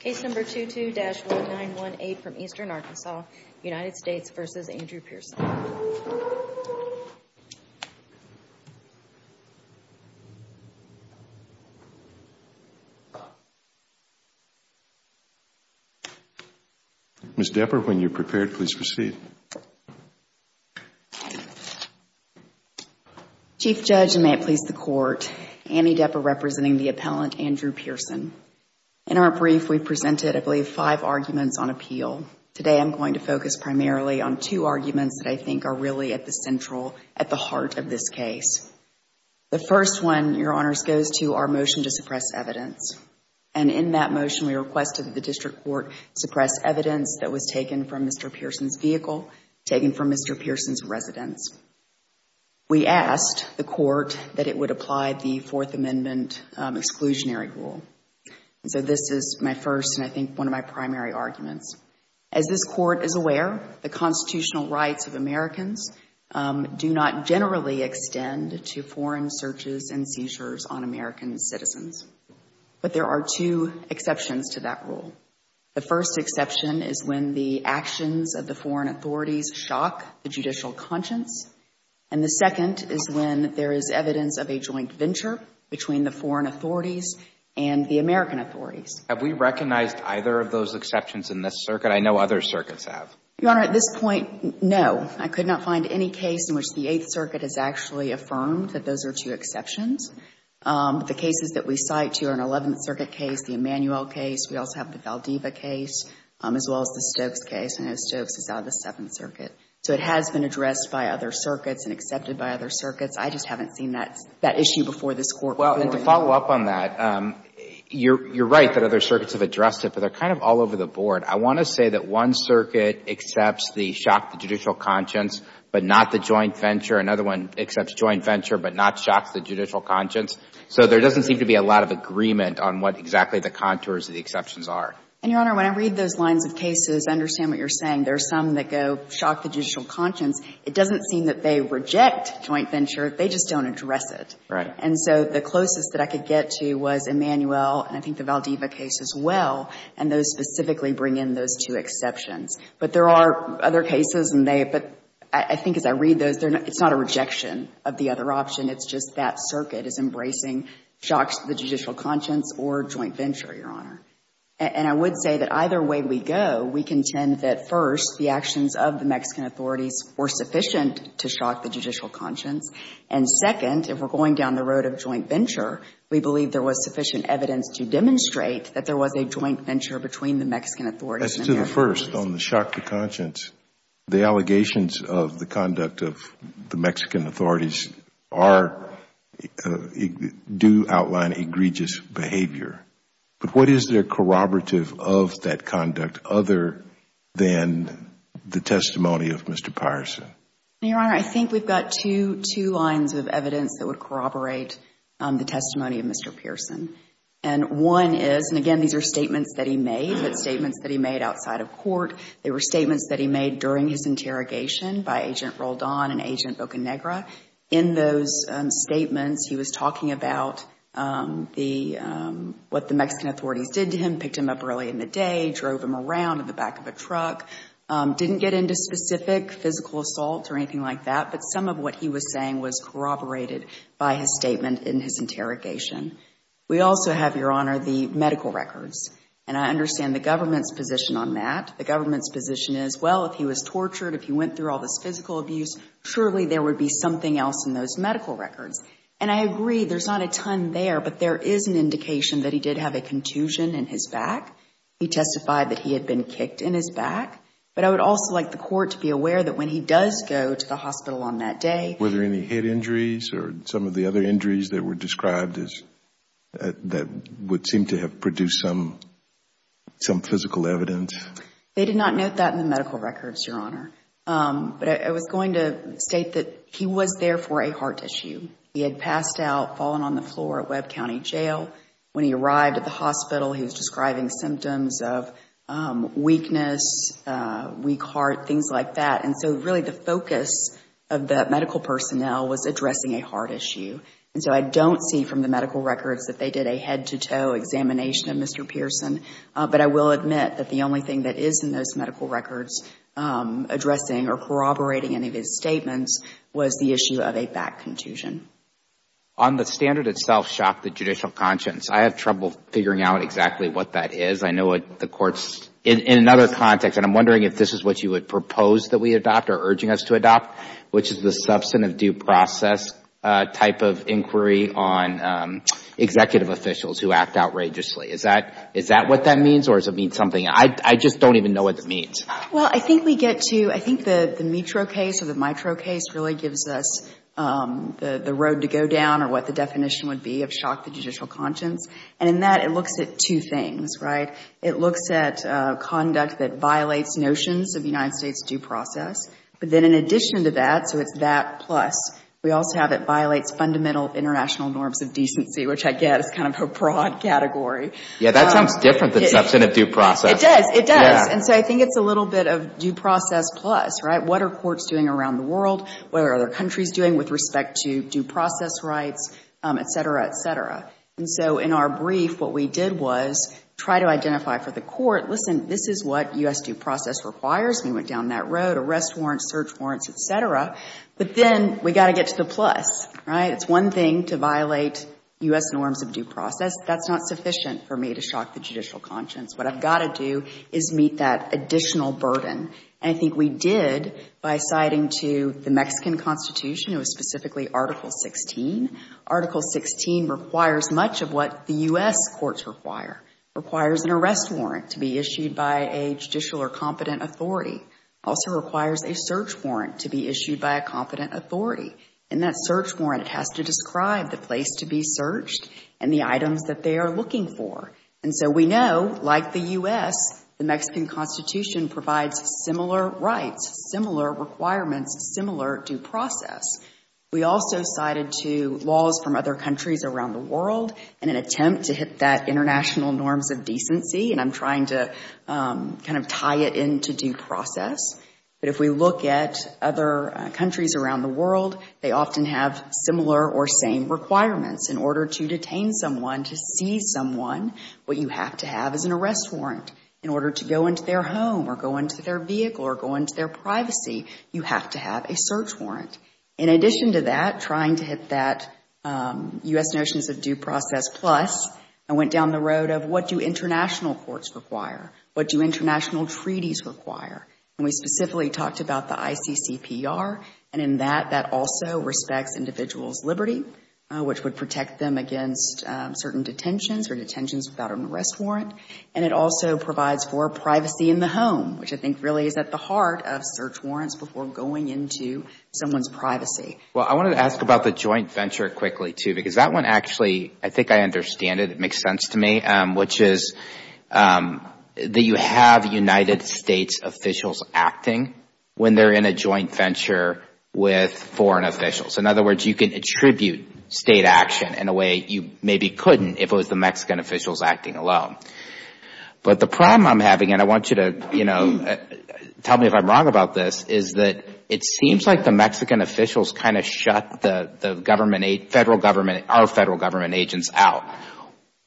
Case No. 22-1918 from Eastern Arkansas, United States v. Andrew Pierson. Ms. Depper, when you're prepared, please proceed. Chief Judge, and may it please the Court, Annie Depper representing the appellant, Andrew Pierson. In our brief, we've presented, I believe, five arguments on appeal. Today, I'm going to focus primarily on two arguments that I think are really at the central, at the heart of this case. The first one, Your Honors, goes to our motion to suppress evidence. And in that motion, we requested that the District Court suppress evidence that was taken from Mr. Pierson's vehicle, taken from Mr. Pierson's residence. We asked the Court that it would apply the Fourth Amendment exclusionary rule. And so this is my first, and I think one of my primary arguments. As this Court is aware, the constitutional rights of Americans do not generally extend to foreign searches and seizures on American citizens. But there are two exceptions to that rule. The first exception is when the actions of the foreign authorities shock the judicial conscience. And the second is when there is evidence of a joint venture between the foreign authorities and the American authorities. Have we recognized either of those exceptions in this circuit? I know other circuits have. Your Honor, at this point, no. I could not find any case in which the Eighth Circuit has actually affirmed that those are two exceptions. The cases that we cite here are an Eleventh Circuit case, the Emanuel case. We also have the Valdiva case, as well as the Stokes case. I know Stokes is out of the Seventh Circuit. So it has been addressed by other circuits and accepted by other circuits. I just haven't seen that issue before this Court. Well, and to follow up on that, you're right that other circuits have addressed it, but they're kind of all over the board. I want to say that one circuit accepts the shock to judicial conscience, but not the joint venture. Another one accepts joint venture, but not shock to the judicial conscience. So there doesn't seem to be a lot of agreement on what exactly the contours of the exceptions are. And, Your Honor, when I read those lines of cases, I understand what you're saying. There are some that go shock to judicial conscience. It doesn't seem that they reject joint venture. They just don't address it. Right. And so the closest that I could get to was Emanuel and I think the Valdiva case, as well. And those specifically bring in those two exceptions. But there are other cases, and they — but I think as I read those, it's not a rejection of the other option. It's just that circuit is embracing shock to the judicial conscience or joint venture, Your Honor. And I would say that either way we go, we contend that, first, the actions of the Mexican authorities were sufficient to shock the judicial conscience. And, second, if we're going down the road of joint venture, we believe there was sufficient evidence to demonstrate that there was a joint venture between the Mexican authorities and the American people. So, first, on the shock to conscience, the allegations of the conduct of the Mexican authorities are — do outline egregious behavior. But what is there corroborative of that conduct other than the testimony of Mr. Pierson? Your Honor, I think we've got two lines of evidence that would corroborate the testimony of Mr. Pierson. And one is — and, again, these are statements that he made, but statements that he made outside of court. They were statements that he made during his interrogation by Agent Roldan and Agent Bocanegra. In those statements, he was talking about the — what the Mexican authorities did to him, picked him up early in the day, drove him around in the back of a truck, didn't get into specific physical assault or anything like that. But some of what he was saying was corroborated by his statement in his interrogation. We also have, Your Honor, the medical records. And I understand the government's position on that. The government's position is, well, if he was tortured, if he went through all this physical abuse, surely there would be something else in those medical records. And I agree, there's not a ton there, but there is an indication that he did have a contusion in his back. He testified that he had been kicked in his back. But I would also like the court to be aware that when he does go to the hospital on that day — Were there any head injuries or some of the other injuries that were described as — that would seem to have produced some physical evidence? They did not note that in the medical records, Your Honor. But I was going to state that he was there for a heart issue. He had passed out, fallen on the floor at Webb County Jail. When he arrived at the hospital, he was describing symptoms of weakness, weak heart, things like that. And so really the focus of the medical personnel was addressing a heart issue. And so I don't see from the medical records that they did a head-to-toe examination of Mr. Pearson. But I will admit that the only thing that is in those medical records addressing or corroborating any of his statements was the issue of a back contusion. On the standard itself, shock to judicial conscience, I have trouble figuring out exactly what that is. I know the court's — in another context, and I'm wondering if this is what you would propose that we adopt or urging us to adopt, which is the substantive due process type of inquiry on executive officials who act outrageously. Is that — is that what that means or does it mean something? Well, I think we get to — I think the Mitro case or the Mitro case really gives us the road to go down or what the definition would be of shock to judicial conscience. And in that, it looks at two things, right? It looks at conduct that violates notions of United States due process. But then in addition to that, so it's that plus, we also have it violates fundamental international norms of decency, which I get is kind of a broad category. Yeah, that sounds different than substantive due process. It does. It does. And so I think it's a little bit of due process plus, right? What are courts doing around the world? What are other countries doing with respect to due process rights, et cetera, et cetera? And so in our brief, what we did was try to identify for the court, listen, this is what U.S. due process requires. We went down that road, arrest warrants, search warrants, et cetera. But then we got to get to the plus, right? It's one thing to violate U.S. norms of due process. That's not sufficient for me to shock the judicial conscience. What I've got to do is meet that additional burden. And I think we did by citing to the Mexican Constitution. It was specifically Article 16. Article 16 requires much of what the U.S. courts require. It requires an arrest warrant to be issued by a judicial or competent authority. It also requires a search warrant to be issued by a competent authority. And that search warrant has to describe the place to be searched and the items that they are looking for. And so we know, like the U.S., the Mexican Constitution provides similar rights, similar requirements, similar due process. We also cited to laws from other countries around the world in an attempt to hit that international norms of decency. And I'm trying to kind of tie it into due process. But if we look at other countries around the world, they often have similar or same requirements. In order to detain someone, to seize someone, what you have to have is an arrest warrant. In order to go into their home or go into their vehicle or go into their privacy, you have to have a search warrant. In addition to that, trying to hit that U.S. notions of due process plus, I went down the road of what do international courts require, what do international treaties require. And we specifically talked about the ICCPR. And in that, that also respects individuals' liberty, which would protect them against certain detentions or detentions without an arrest warrant. And it also provides for privacy in the home, which I think really is at the heart of search warrants before going into someone's privacy. Well, I wanted to ask about the joint venture quickly, too, because that one actually, I think I understand it. It makes sense to me, which is that you have United States officials acting when they're in a joint venture with foreign officials. In other words, you can attribute state action in a way you maybe couldn't if it was the Mexican officials acting alone. But the problem I'm having, and I want you to tell me if I'm wrong about this, is that it seems like the Mexican officials kind of shut the government, federal government, our federal government agents out.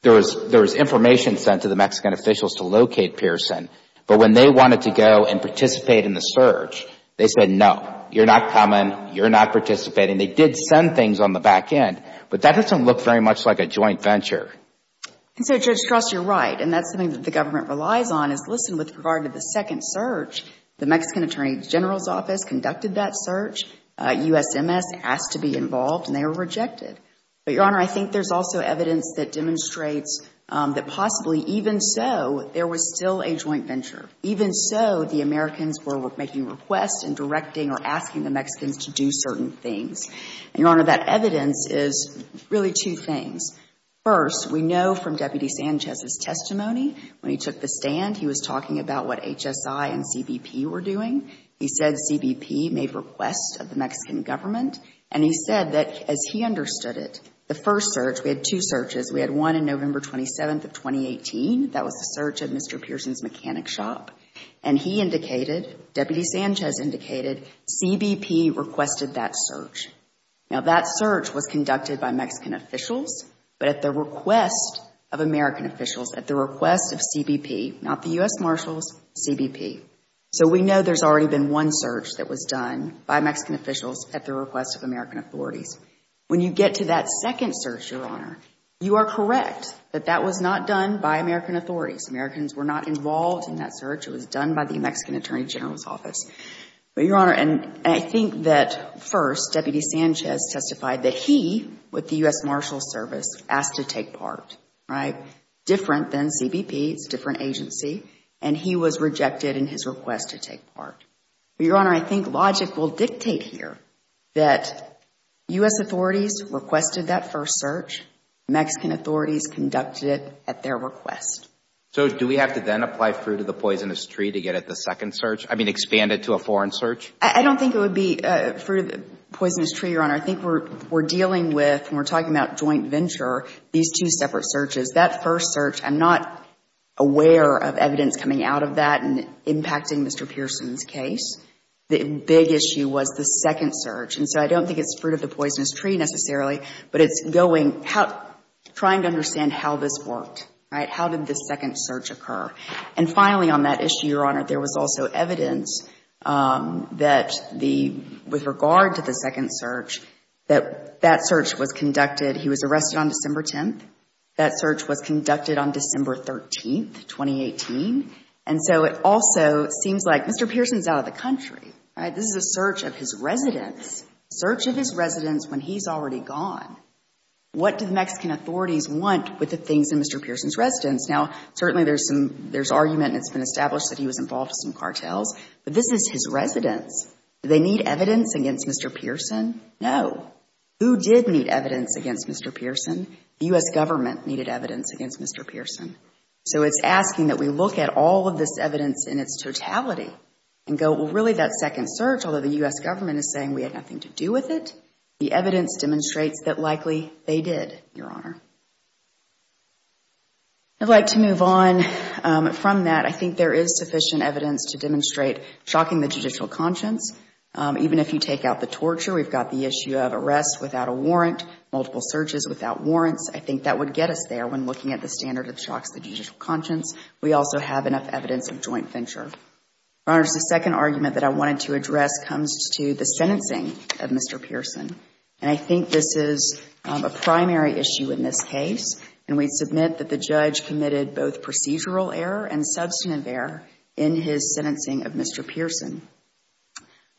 There was information sent to the Mexican officials to locate Pearson. But when they wanted to go and participate in the search, they said, no, you're not coming, you're not participating. They did send things on the back end. But that doesn't look very much like a joint venture. And so, Judge Cross, you're right. And that's something that the government relies on is listen with regard to the second search. The Mexican Attorney General's Office conducted that search. USMS asked to be involved, and they were rejected. But, Your Honor, I think there's also evidence that demonstrates that possibly even so, there was still a joint venture. Even so, the Americans were making requests and directing or asking the Mexicans to do certain things. And, Your Honor, that evidence is really two things. First, we know from Deputy Sanchez's testimony, when he took the stand, he was talking about what HSI and CBP were doing. He said CBP made requests of the Mexican government. And he said that, as he understood it, the first search, we had two searches. We had one on November 27th of 2018. That was the search of Mr. Pearson's mechanic shop. And he indicated, Deputy Sanchez indicated, CBP requested that search. Now, that search was conducted by Mexican officials, but at the request of American officials, at the request of CBP, not the U.S. Marshals, CBP. So we know there's already been one search that was done by Mexican officials at the request of American authorities. When you get to that second search, Your Honor, you are correct that that was not done by American authorities. Americans were not involved in that search. But, Your Honor, and I think that, first, Deputy Sanchez testified that he, with the U.S. Marshals Service, asked to take part, right? Different than CBP. It's a different agency. And he was rejected in his request to take part. But, Your Honor, I think logic will dictate here that U.S. authorities requested that first search. Mexican authorities conducted it at their request. So do we have to then apply fruit of the poisonous tree to get at the second search? I mean, expand it to a foreign search? I don't think it would be fruit of the poisonous tree, Your Honor. I think we're dealing with, when we're talking about joint venture, these two separate searches. That first search, I'm not aware of evidence coming out of that and impacting Mr. Pearson's case. The big issue was the second search. And so I don't think it's fruit of the poisonous tree necessarily, but it's going, trying to understand how this worked, right? How did this second search occur? And finally, on that issue, Your Honor, there was also evidence that the, with regard to the second search, that that search was conducted. He was arrested on December 10th. That search was conducted on December 13th, 2018. And so it also seems like Mr. Pearson's out of the country, right? This is a search of his residence, search of his residence when he's already gone. What do the Mexican authorities want with the things in Mr. Pearson's residence? Now, certainly there's some, there's argument and it's been established that he was involved in some cartels, but this is his residence. Do they need evidence against Mr. Pearson? No. Who did need evidence against Mr. Pearson? The U.S. government needed evidence against Mr. Pearson. So it's asking that we look at all of this evidence in its totality and go, well, really that second search, although the U.S. government is saying we had nothing to do with it, the evidence demonstrates that likely they did, Your Honor. I'd like to move on from that. I think there is sufficient evidence to demonstrate shocking the judicial conscience. Even if you take out the torture, we've got the issue of arrest without a warrant, multiple searches without warrants. I think that would get us there when looking at the standard that shocks the judicial conscience. We also have enough evidence of joint venture. Your Honor, the second argument that I wanted to address comes to the sentencing of Mr. Pearson. And I think this is a primary issue in this case. And we submit that the judge committed both procedural error and substantive error in his sentencing of Mr. Pearson.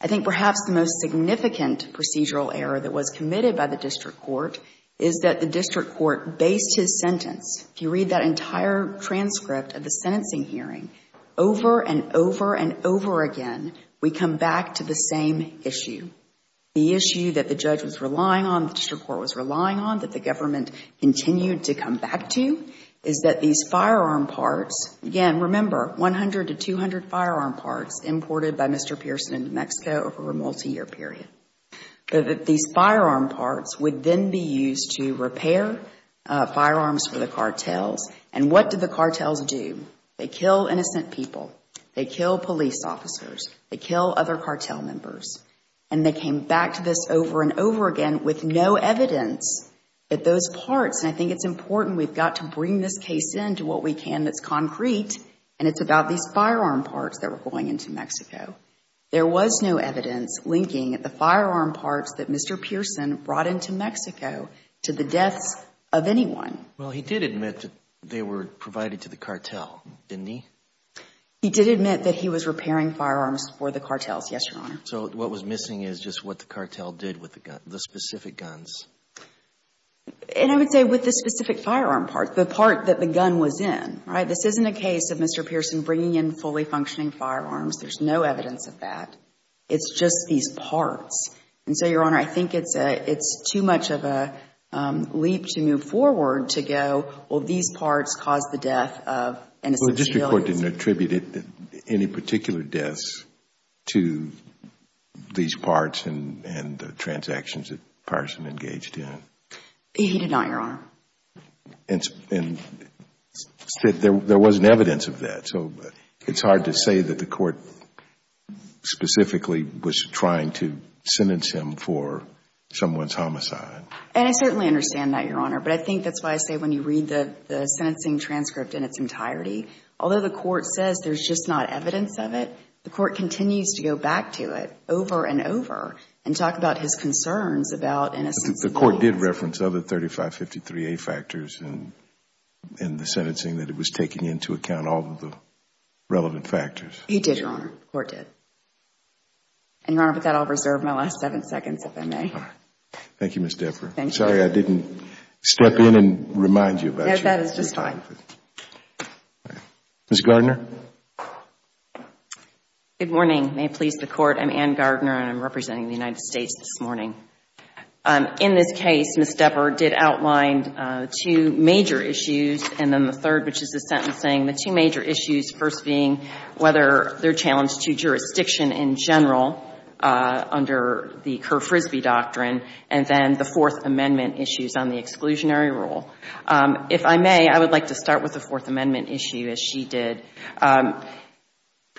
I think perhaps the most significant procedural error that was committed by the district court is that the district court based his sentence, if you read that entire transcript of the sentencing hearing over and over and over again, we come back to the same issue. The issue that the judge was relying on, the district court was relying on, that the government continued to come back to, is that these firearm parts, again, remember, 100 to 200 firearm parts imported by Mr. Pearson in New Mexico over a multiyear period. These firearm parts would then be used to repair firearms for the cartels. And what did the cartels do? They kill innocent people. They kill police officers. They kill other cartel members. And they came back to this over and over again with no evidence that those parts, and I think it's important we've got to bring this case in to what we can that's concrete, and it's about these firearm parts that were going into Mexico. There was no evidence linking the firearm parts that Mr. Pearson brought into Mexico to the deaths of anyone. Well, he did admit that they were provided to the cartel, didn't he? He did admit that he was repairing firearms for the cartels, yes, Your Honor. So what was missing is just what the cartel did with the specific guns. And I would say with the specific firearm parts, the part that the gun was in, right? This isn't a case of Mr. Pearson bringing in fully functioning firearms. There's no evidence of that. It's just these parts. And so, Your Honor, I think it's too much of a leap to move forward to go, well, these parts caused the death of innocent civilians. Well, the district court didn't attribute any particular deaths to these parts He did not, Your Honor. And there wasn't evidence of that. So it's hard to say that the court specifically was trying to sentence him for someone's homicide. And I certainly understand that, Your Honor. But I think that's why I say when you read the sentencing transcript in its entirety, although the court says there's just not evidence of it, the court continues to go back to it over and over and talk about his concerns about innocent civilians. The court did reference other 3553A factors in the sentencing that it was taking into account all of the relevant factors. He did, Your Honor. The court did. And, Your Honor, with that, I'll reserve my last seven seconds, if I may. Thank you, Ms. Deffer. Sorry I didn't step in and remind you about your time. No, that is just fine. Ms. Gardner. Good morning. May it please the Court. I'm Anne Gardner, and I'm representing the United States this morning. In this case, Ms. Deffer did outline two major issues, and then the third, which is the sentencing, the two major issues, first being whether they're challenged to jurisdiction in general under the Kerr-Frisbee doctrine, and then the Fourth Amendment issues on the exclusionary rule. If I may, I would like to start with the Fourth Amendment issue, as she did.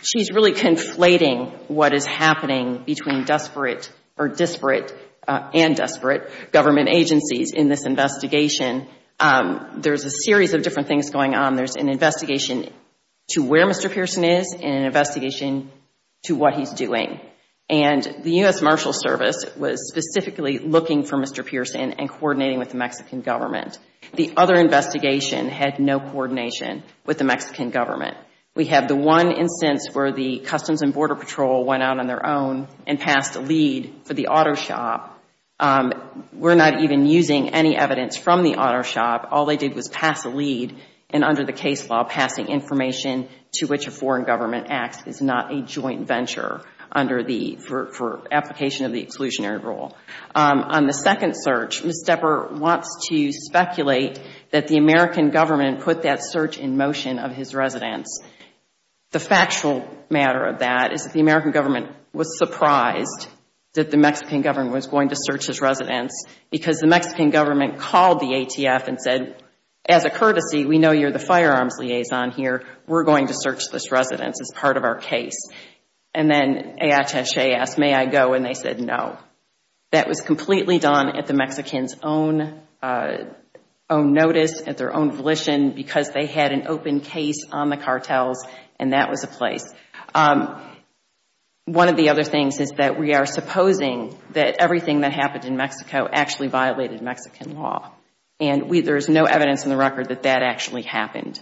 She's really conflating what is happening between disparate and desperate government agencies in this investigation. There's a series of different things going on. There's an investigation to where Mr. Pearson is and an investigation to what he's doing. And the U.S. Marshal Service was specifically looking for Mr. Pearson and coordinating with the Mexican government. The other investigation had no coordination with the Mexican government. We have the one instance where the Customs and Border Patrol went out on their own and passed a lead for the auto shop. We're not even using any evidence from the auto shop. All they did was pass a lead, and under the case law, passing information to which a foreign government acts is not a joint venture for application of the exclusionary rule. On the second search, Ms. Depper wants to speculate that the American government put that search in motion of his residence. The factual matter of that is that the American government was surprised that the Mexican government was going to search his residence because the Mexican government called the ATF and said, as a courtesy, we know you're the firearms liaison here. We're going to search this residence as part of our case. And then AHSJ asked, may I go, and they said no. That was completely done at the Mexicans' own notice, at their own volition, because they had an open case on the cartels, and that was the place. One of the other things is that we are supposing that everything that happened in Mexico actually violated Mexican law. And there's no evidence in the record that that actually happened.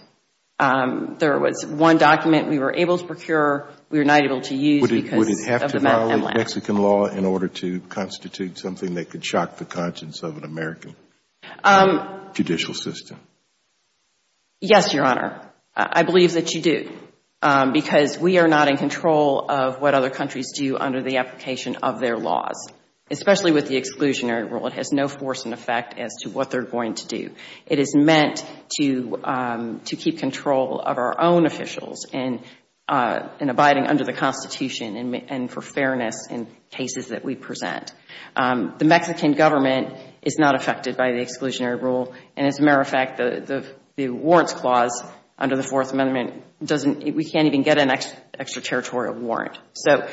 There was one document we were able to procure. We were not able to use because of the MLAC. Would it have to violate Mexican law in order to constitute something that could shock the conscience of an American judicial system? Yes, Your Honor. I believe that you do, because we are not in control of what other countries do under the application of their laws, especially with the exclusionary rule. It has no force and effect as to what they're going to do. It is meant to keep control of our own officials in abiding under the Constitution and for fairness in cases that we present. The Mexican government is not affected by the exclusionary rule, and as a matter of fact, the warrants clause under the Fourth Amendment, we can't even get an extraterritorial warrant. So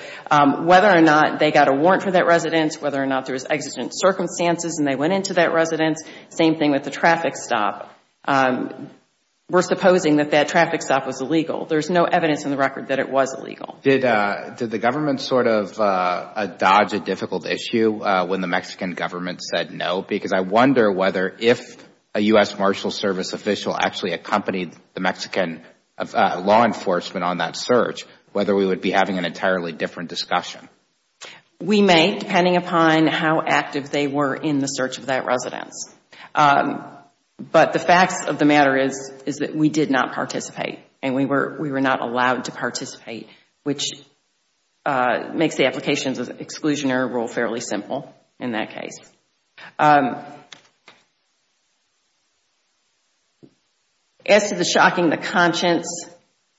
whether or not they got a warrant for that residence, whether or not there was exigent circumstances and they went into that residence, same thing with the traffic stop. We're supposing that that traffic stop was illegal. There's no evidence in the record that it was illegal. Did the government sort of dodge a difficult issue when the Mexican government said no? Because I wonder whether if a U.S. Marshals Service official actually accompanied the Mexican law enforcement on that search, whether we would be having an entirely different discussion. We may, depending upon how active they were in the search of that residence. But the facts of the matter is that we did not participate and we were not allowed to participate, which makes the applications of the exclusionary rule fairly simple in that case. As to the shocking the conscience,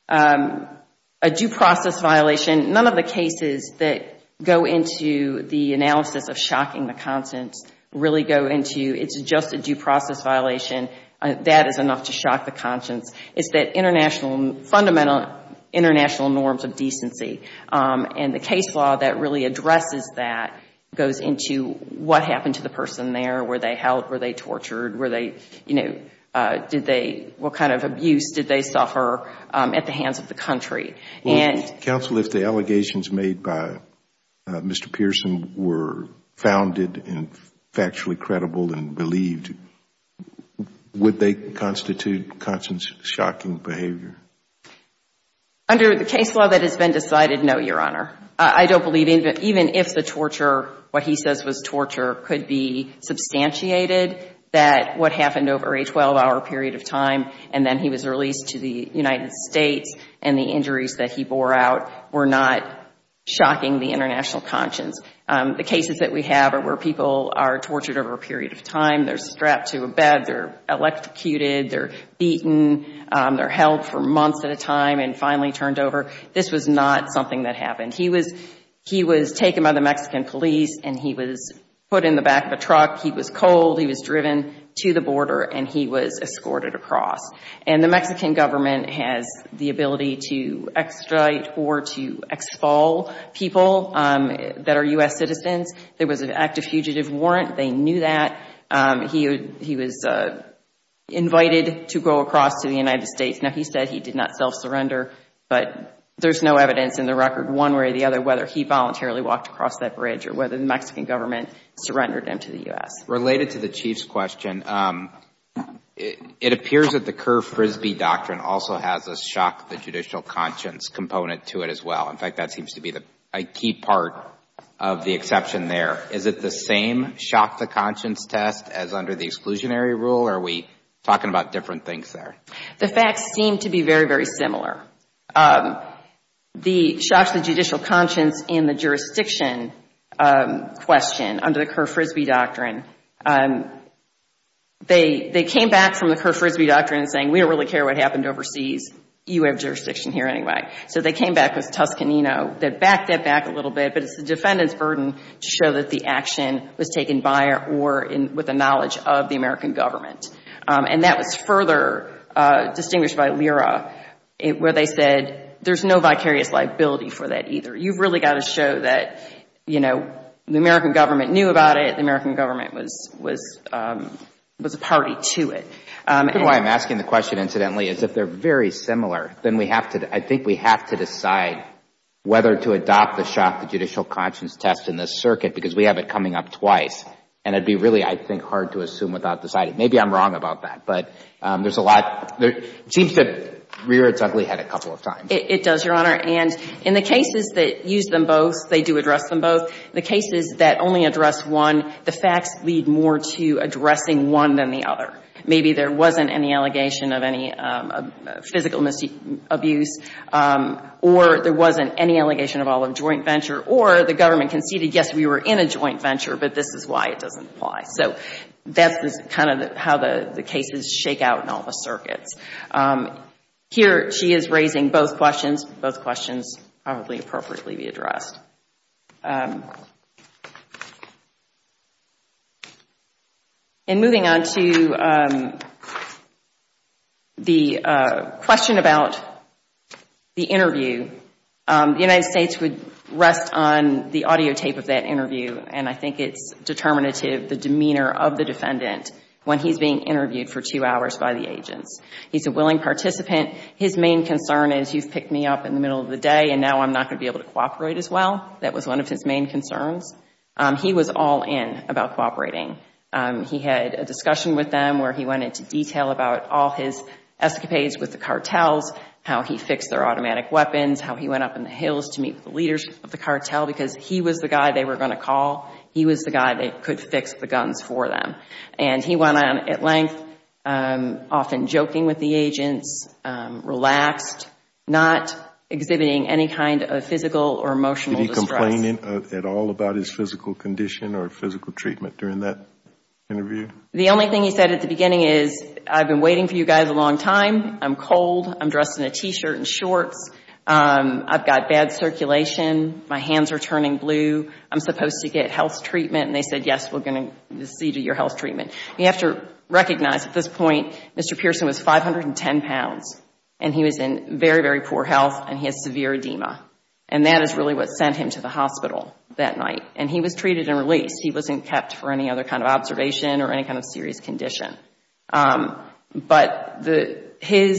a due process violation, none of the cases that go into the analysis of shocking the conscience really go into it's just a due process violation. That is enough to shock the conscience. It's that international, fundamental international norms of decency. And the case law that really addresses that goes into what happened to the person there. Were they held? Were they tortured? Were they, you know, did they, what kind of abuse did they suffer at the hands of the country? Counsel, if the allegations made by Mr. Pearson were founded and factually credible and believed, would they constitute conscience shocking behavior? Under the case law that has been decided, no, Your Honor. I don't believe even if the torture, what he says was torture, could be substantiated that what happened over a 12-hour period of time and then he was released to the United States and the injuries that he bore out were not shocking the international conscience. The cases that we have are where people are tortured over a period of time, they're strapped to a bed, they're electrocuted, they're beaten, they're held for months at a time and finally turned over. This was not something that happened. He was taken by the Mexican police and he was put in the back of a truck, he was cold, he was driven to the border and he was escorted across. And the Mexican government has the ability to extricate or to expel people that are U.S. citizens. There was an active fugitive warrant, they knew that. He was invited to go across to the United States. Now, he said he did not self-surrender, but there's no evidence in the record one way or the other whether he voluntarily walked across that bridge or whether the Mexican government surrendered him to the U.S. Related to the Chief's question, it appears that the Kerr-Frisbee Doctrine also has a shock the judicial conscience component to it as well. In fact, that seems to be a key part of the exception there. Is it the same shock the conscience test as under the exclusionary rule or are we talking about different things there? The facts seem to be very, very similar. The shock to the judicial conscience in the jurisdiction question under the Kerr-Frisbee Doctrine, they came back from the Kerr-Frisbee Doctrine saying we don't really care what happened overseas, you have jurisdiction here anyway. So they came back with Toscanino that backed that back a little bit, but it's the defendant's burden to show that the action was taken by or with the knowledge of the American government. And that was further distinguished by Lira where they said there's no vicarious liability for that either. You've really got to show that, you know, the American government knew about it, the American government was a party to it. The reason why I'm asking the question, incidentally, is if they're very similar, then I think we have to decide whether to adopt the shock to judicial conscience test in this circuit because we have it coming up twice and it would be really, I think, hard to assume without deciding. Maybe I'm wrong about that, but there's a lot. It seems to rear its ugly head a couple of times. It does, Your Honor. And in the cases that use them both, they do address them both. The cases that only address one, the facts lead more to addressing one than the other. Maybe there wasn't any allegation of any physical abuse or there wasn't any allegation of all of joint venture or the government conceded, yes, we were in a joint venture, but this is why it doesn't apply. So that's kind of how the cases shake out in all the circuits. Here she is raising both questions. Both questions probably appropriately be addressed. And moving on to the question about the interview, the United States would rest on the audio tape of that interview, and I think it's determinative the demeanor of the defendant when he's being interviewed for two hours by the agents. He's a willing participant. His main concern is you've picked me up in the middle of the day and now I'm not going to be able to cooperate as well. That was one of his main concerns. He was all in about cooperating. He had a discussion with them where he went into detail about all his escapades with the cartels, how he fixed their automatic weapons, how he went up in the hills to meet with the leaders of the cartel because he was the guy they were going to call. He was the guy that could fix the guns for them. And he went on at length, often joking with the agents, relaxed, not exhibiting any kind of physical or emotional distress. Did he complain at all about his physical condition or physical treatment during that interview? The only thing he said at the beginning is, I've been waiting for you guys a long time, I'm cold, I'm dressed in a T-shirt and shorts, I've got bad circulation, my hands are turning blue, I'm supposed to get health treatment. And they said, yes, we're going to see to your health treatment. You have to recognize at this point Mr. Pearson was 510 pounds and he was in very, very poor health and he has severe edema. And that is really what sent him to the hospital that night. And he was treated and released. He wasn't kept for any other kind of observation or any kind of serious condition. But he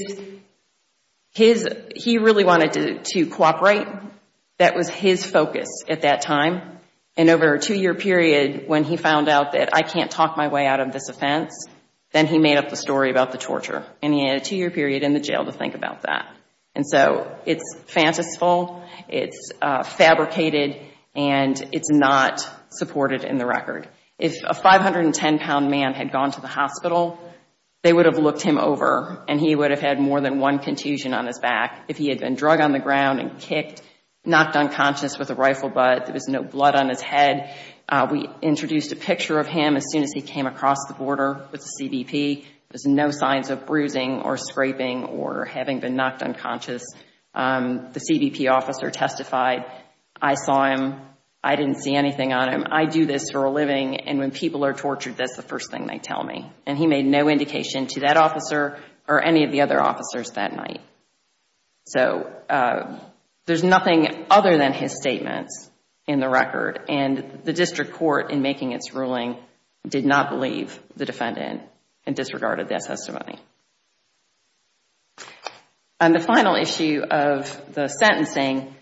really wanted to cooperate. That was his focus at that time. And over a two-year period when he found out that I can't talk my way out of this offense, then he made up the story about the torture. And he had a two-year period in the jail to think about that. And so it's fanciful, it's fabricated, and it's not supported in the record. If a 510-pound man had gone to the hospital, they would have looked him over and he would have had more than one contusion on his back. If he had been drug on the ground and kicked, knocked unconscious with a rifle butt, there was no blood on his head. We introduced a picture of him as soon as he came across the border with the CBP. There's no signs of bruising or scraping or having been knocked unconscious. The CBP officer testified, I saw him, I didn't see anything on him. I do this for a living, and when people are tortured, that's the first thing they tell me. And he made no indication to that officer or any of the other officers that night. So there's nothing other than his statements in the record. And the district court, in making its ruling, did not believe the defendant and disregarded that testimony. And the final issue of the sentencing,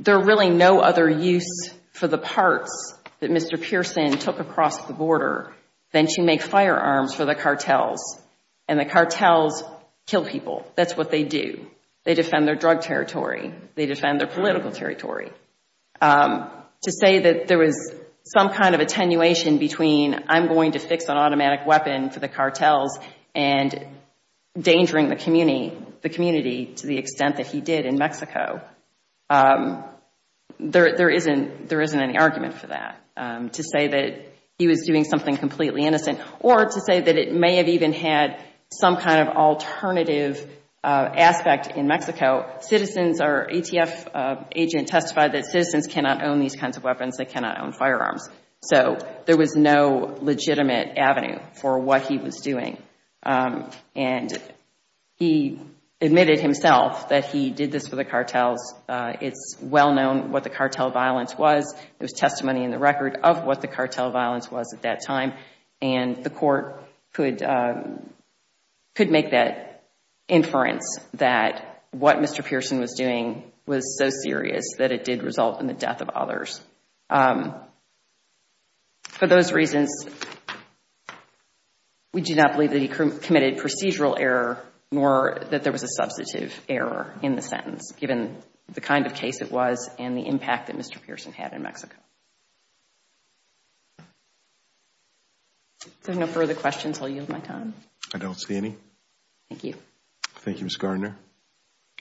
there are really no other use for the parts that Mr. Pearson took across the border than to make firearms for the cartels. And the cartels kill people. That's what they do. They defend their drug territory. They defend their political territory. To say that there was some kind of attenuation between, I'm going to fix an automatic weapon for the cartels and endangering the community to the extent that he did in Mexico, there isn't any argument for that. To say that he was doing something completely innocent or to say that it may have even had some kind of alternative aspect in Mexico. Citizens, our ATF agent testified that citizens cannot own these kinds of weapons. They cannot own firearms. So there was no legitimate avenue for what he was doing. And he admitted himself that he did this for the cartels. It's well known what the cartel violence was. There was testimony in the record of what the cartel violence was at that time. And the court could make that inference that what Mr. Pearson was doing was so serious that it did result in the death of others. For those reasons, we do not believe that he committed procedural error, nor that there was a substantive error in the sentence, given the kind of case it was and the impact that Mr. Pearson had in Mexico. If there are no further questions, I'll yield my time. I don't see any. Thank you. Thank you, Ms. Gardner.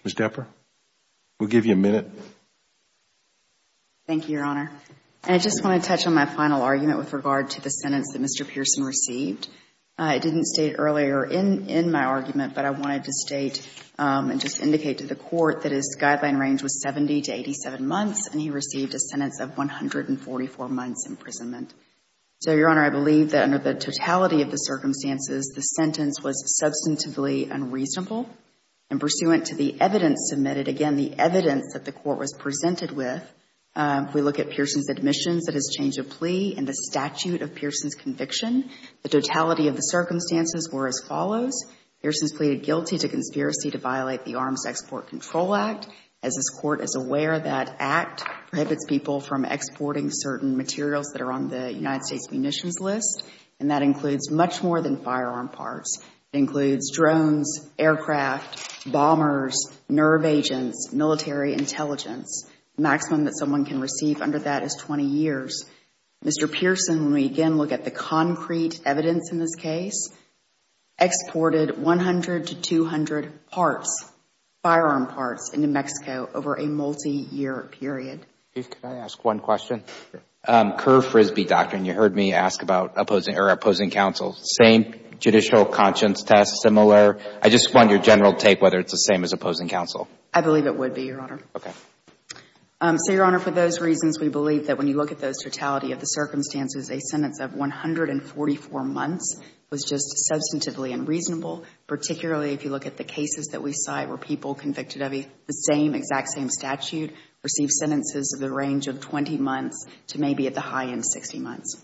Ms. Depper, we'll give you a minute. Thank you, Your Honor. I just want to touch on my final argument with regard to the sentence that Mr. Pearson received. I didn't state earlier in my argument, but I wanted to state and just indicate to the court that his guideline range was 70 to 87 months, and he received a sentence of 144 months imprisonment. So, Your Honor, I believe that under the totality of the circumstances, the sentence was substantively unreasonable, and pursuant to the evidence submitted, again, the evidence that the court was presented with, we look at Pearson's admissions that has changed a plea and the statute of Pearson's conviction. The totality of the circumstances were as follows. Pearson's pleaded guilty to conspiracy to violate the Arms Export Control Act. As this court is aware, that act prohibits people from exporting certain materials that are on the United States munitions list, and that includes much more than firearm parts. It includes drones, aircraft, bombers, nerve agents, military intelligence. The maximum that someone can receive under that is 20 years. Mr. Pearson, when we again look at the concrete evidence in this case, exported 100 to 200 parts, firearm parts, into Mexico over a multi-year period. Can I ask one question? Curve Frisbee doctrine, you heard me ask about opposing counsel. Same judicial conscience test, similar? I just want your general take whether it's the same as opposing counsel. I believe it would be, Your Honor. Okay. So, Your Honor, for those reasons, we believe that when you look at those totality of the circumstances, a sentence of 144 months was just substantively unreasonable, particularly if you look at the cases that we cite where people convicted of the same, receive sentences of the range of 20 months to maybe at the high end, 60 months.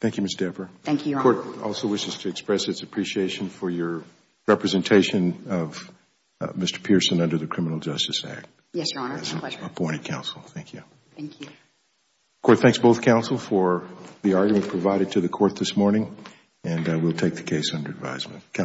Thank you, Ms. Depper. Thank you, Your Honor. The court also wishes to express its appreciation for your representation of Mr. Pearson under the Criminal Justice Act. Yes, Your Honor, it's a pleasure. As an opposing counsel. Thank you. Thank you. The court thanks both counsel for the argument provided to the court this morning, and we'll take the case under advisement.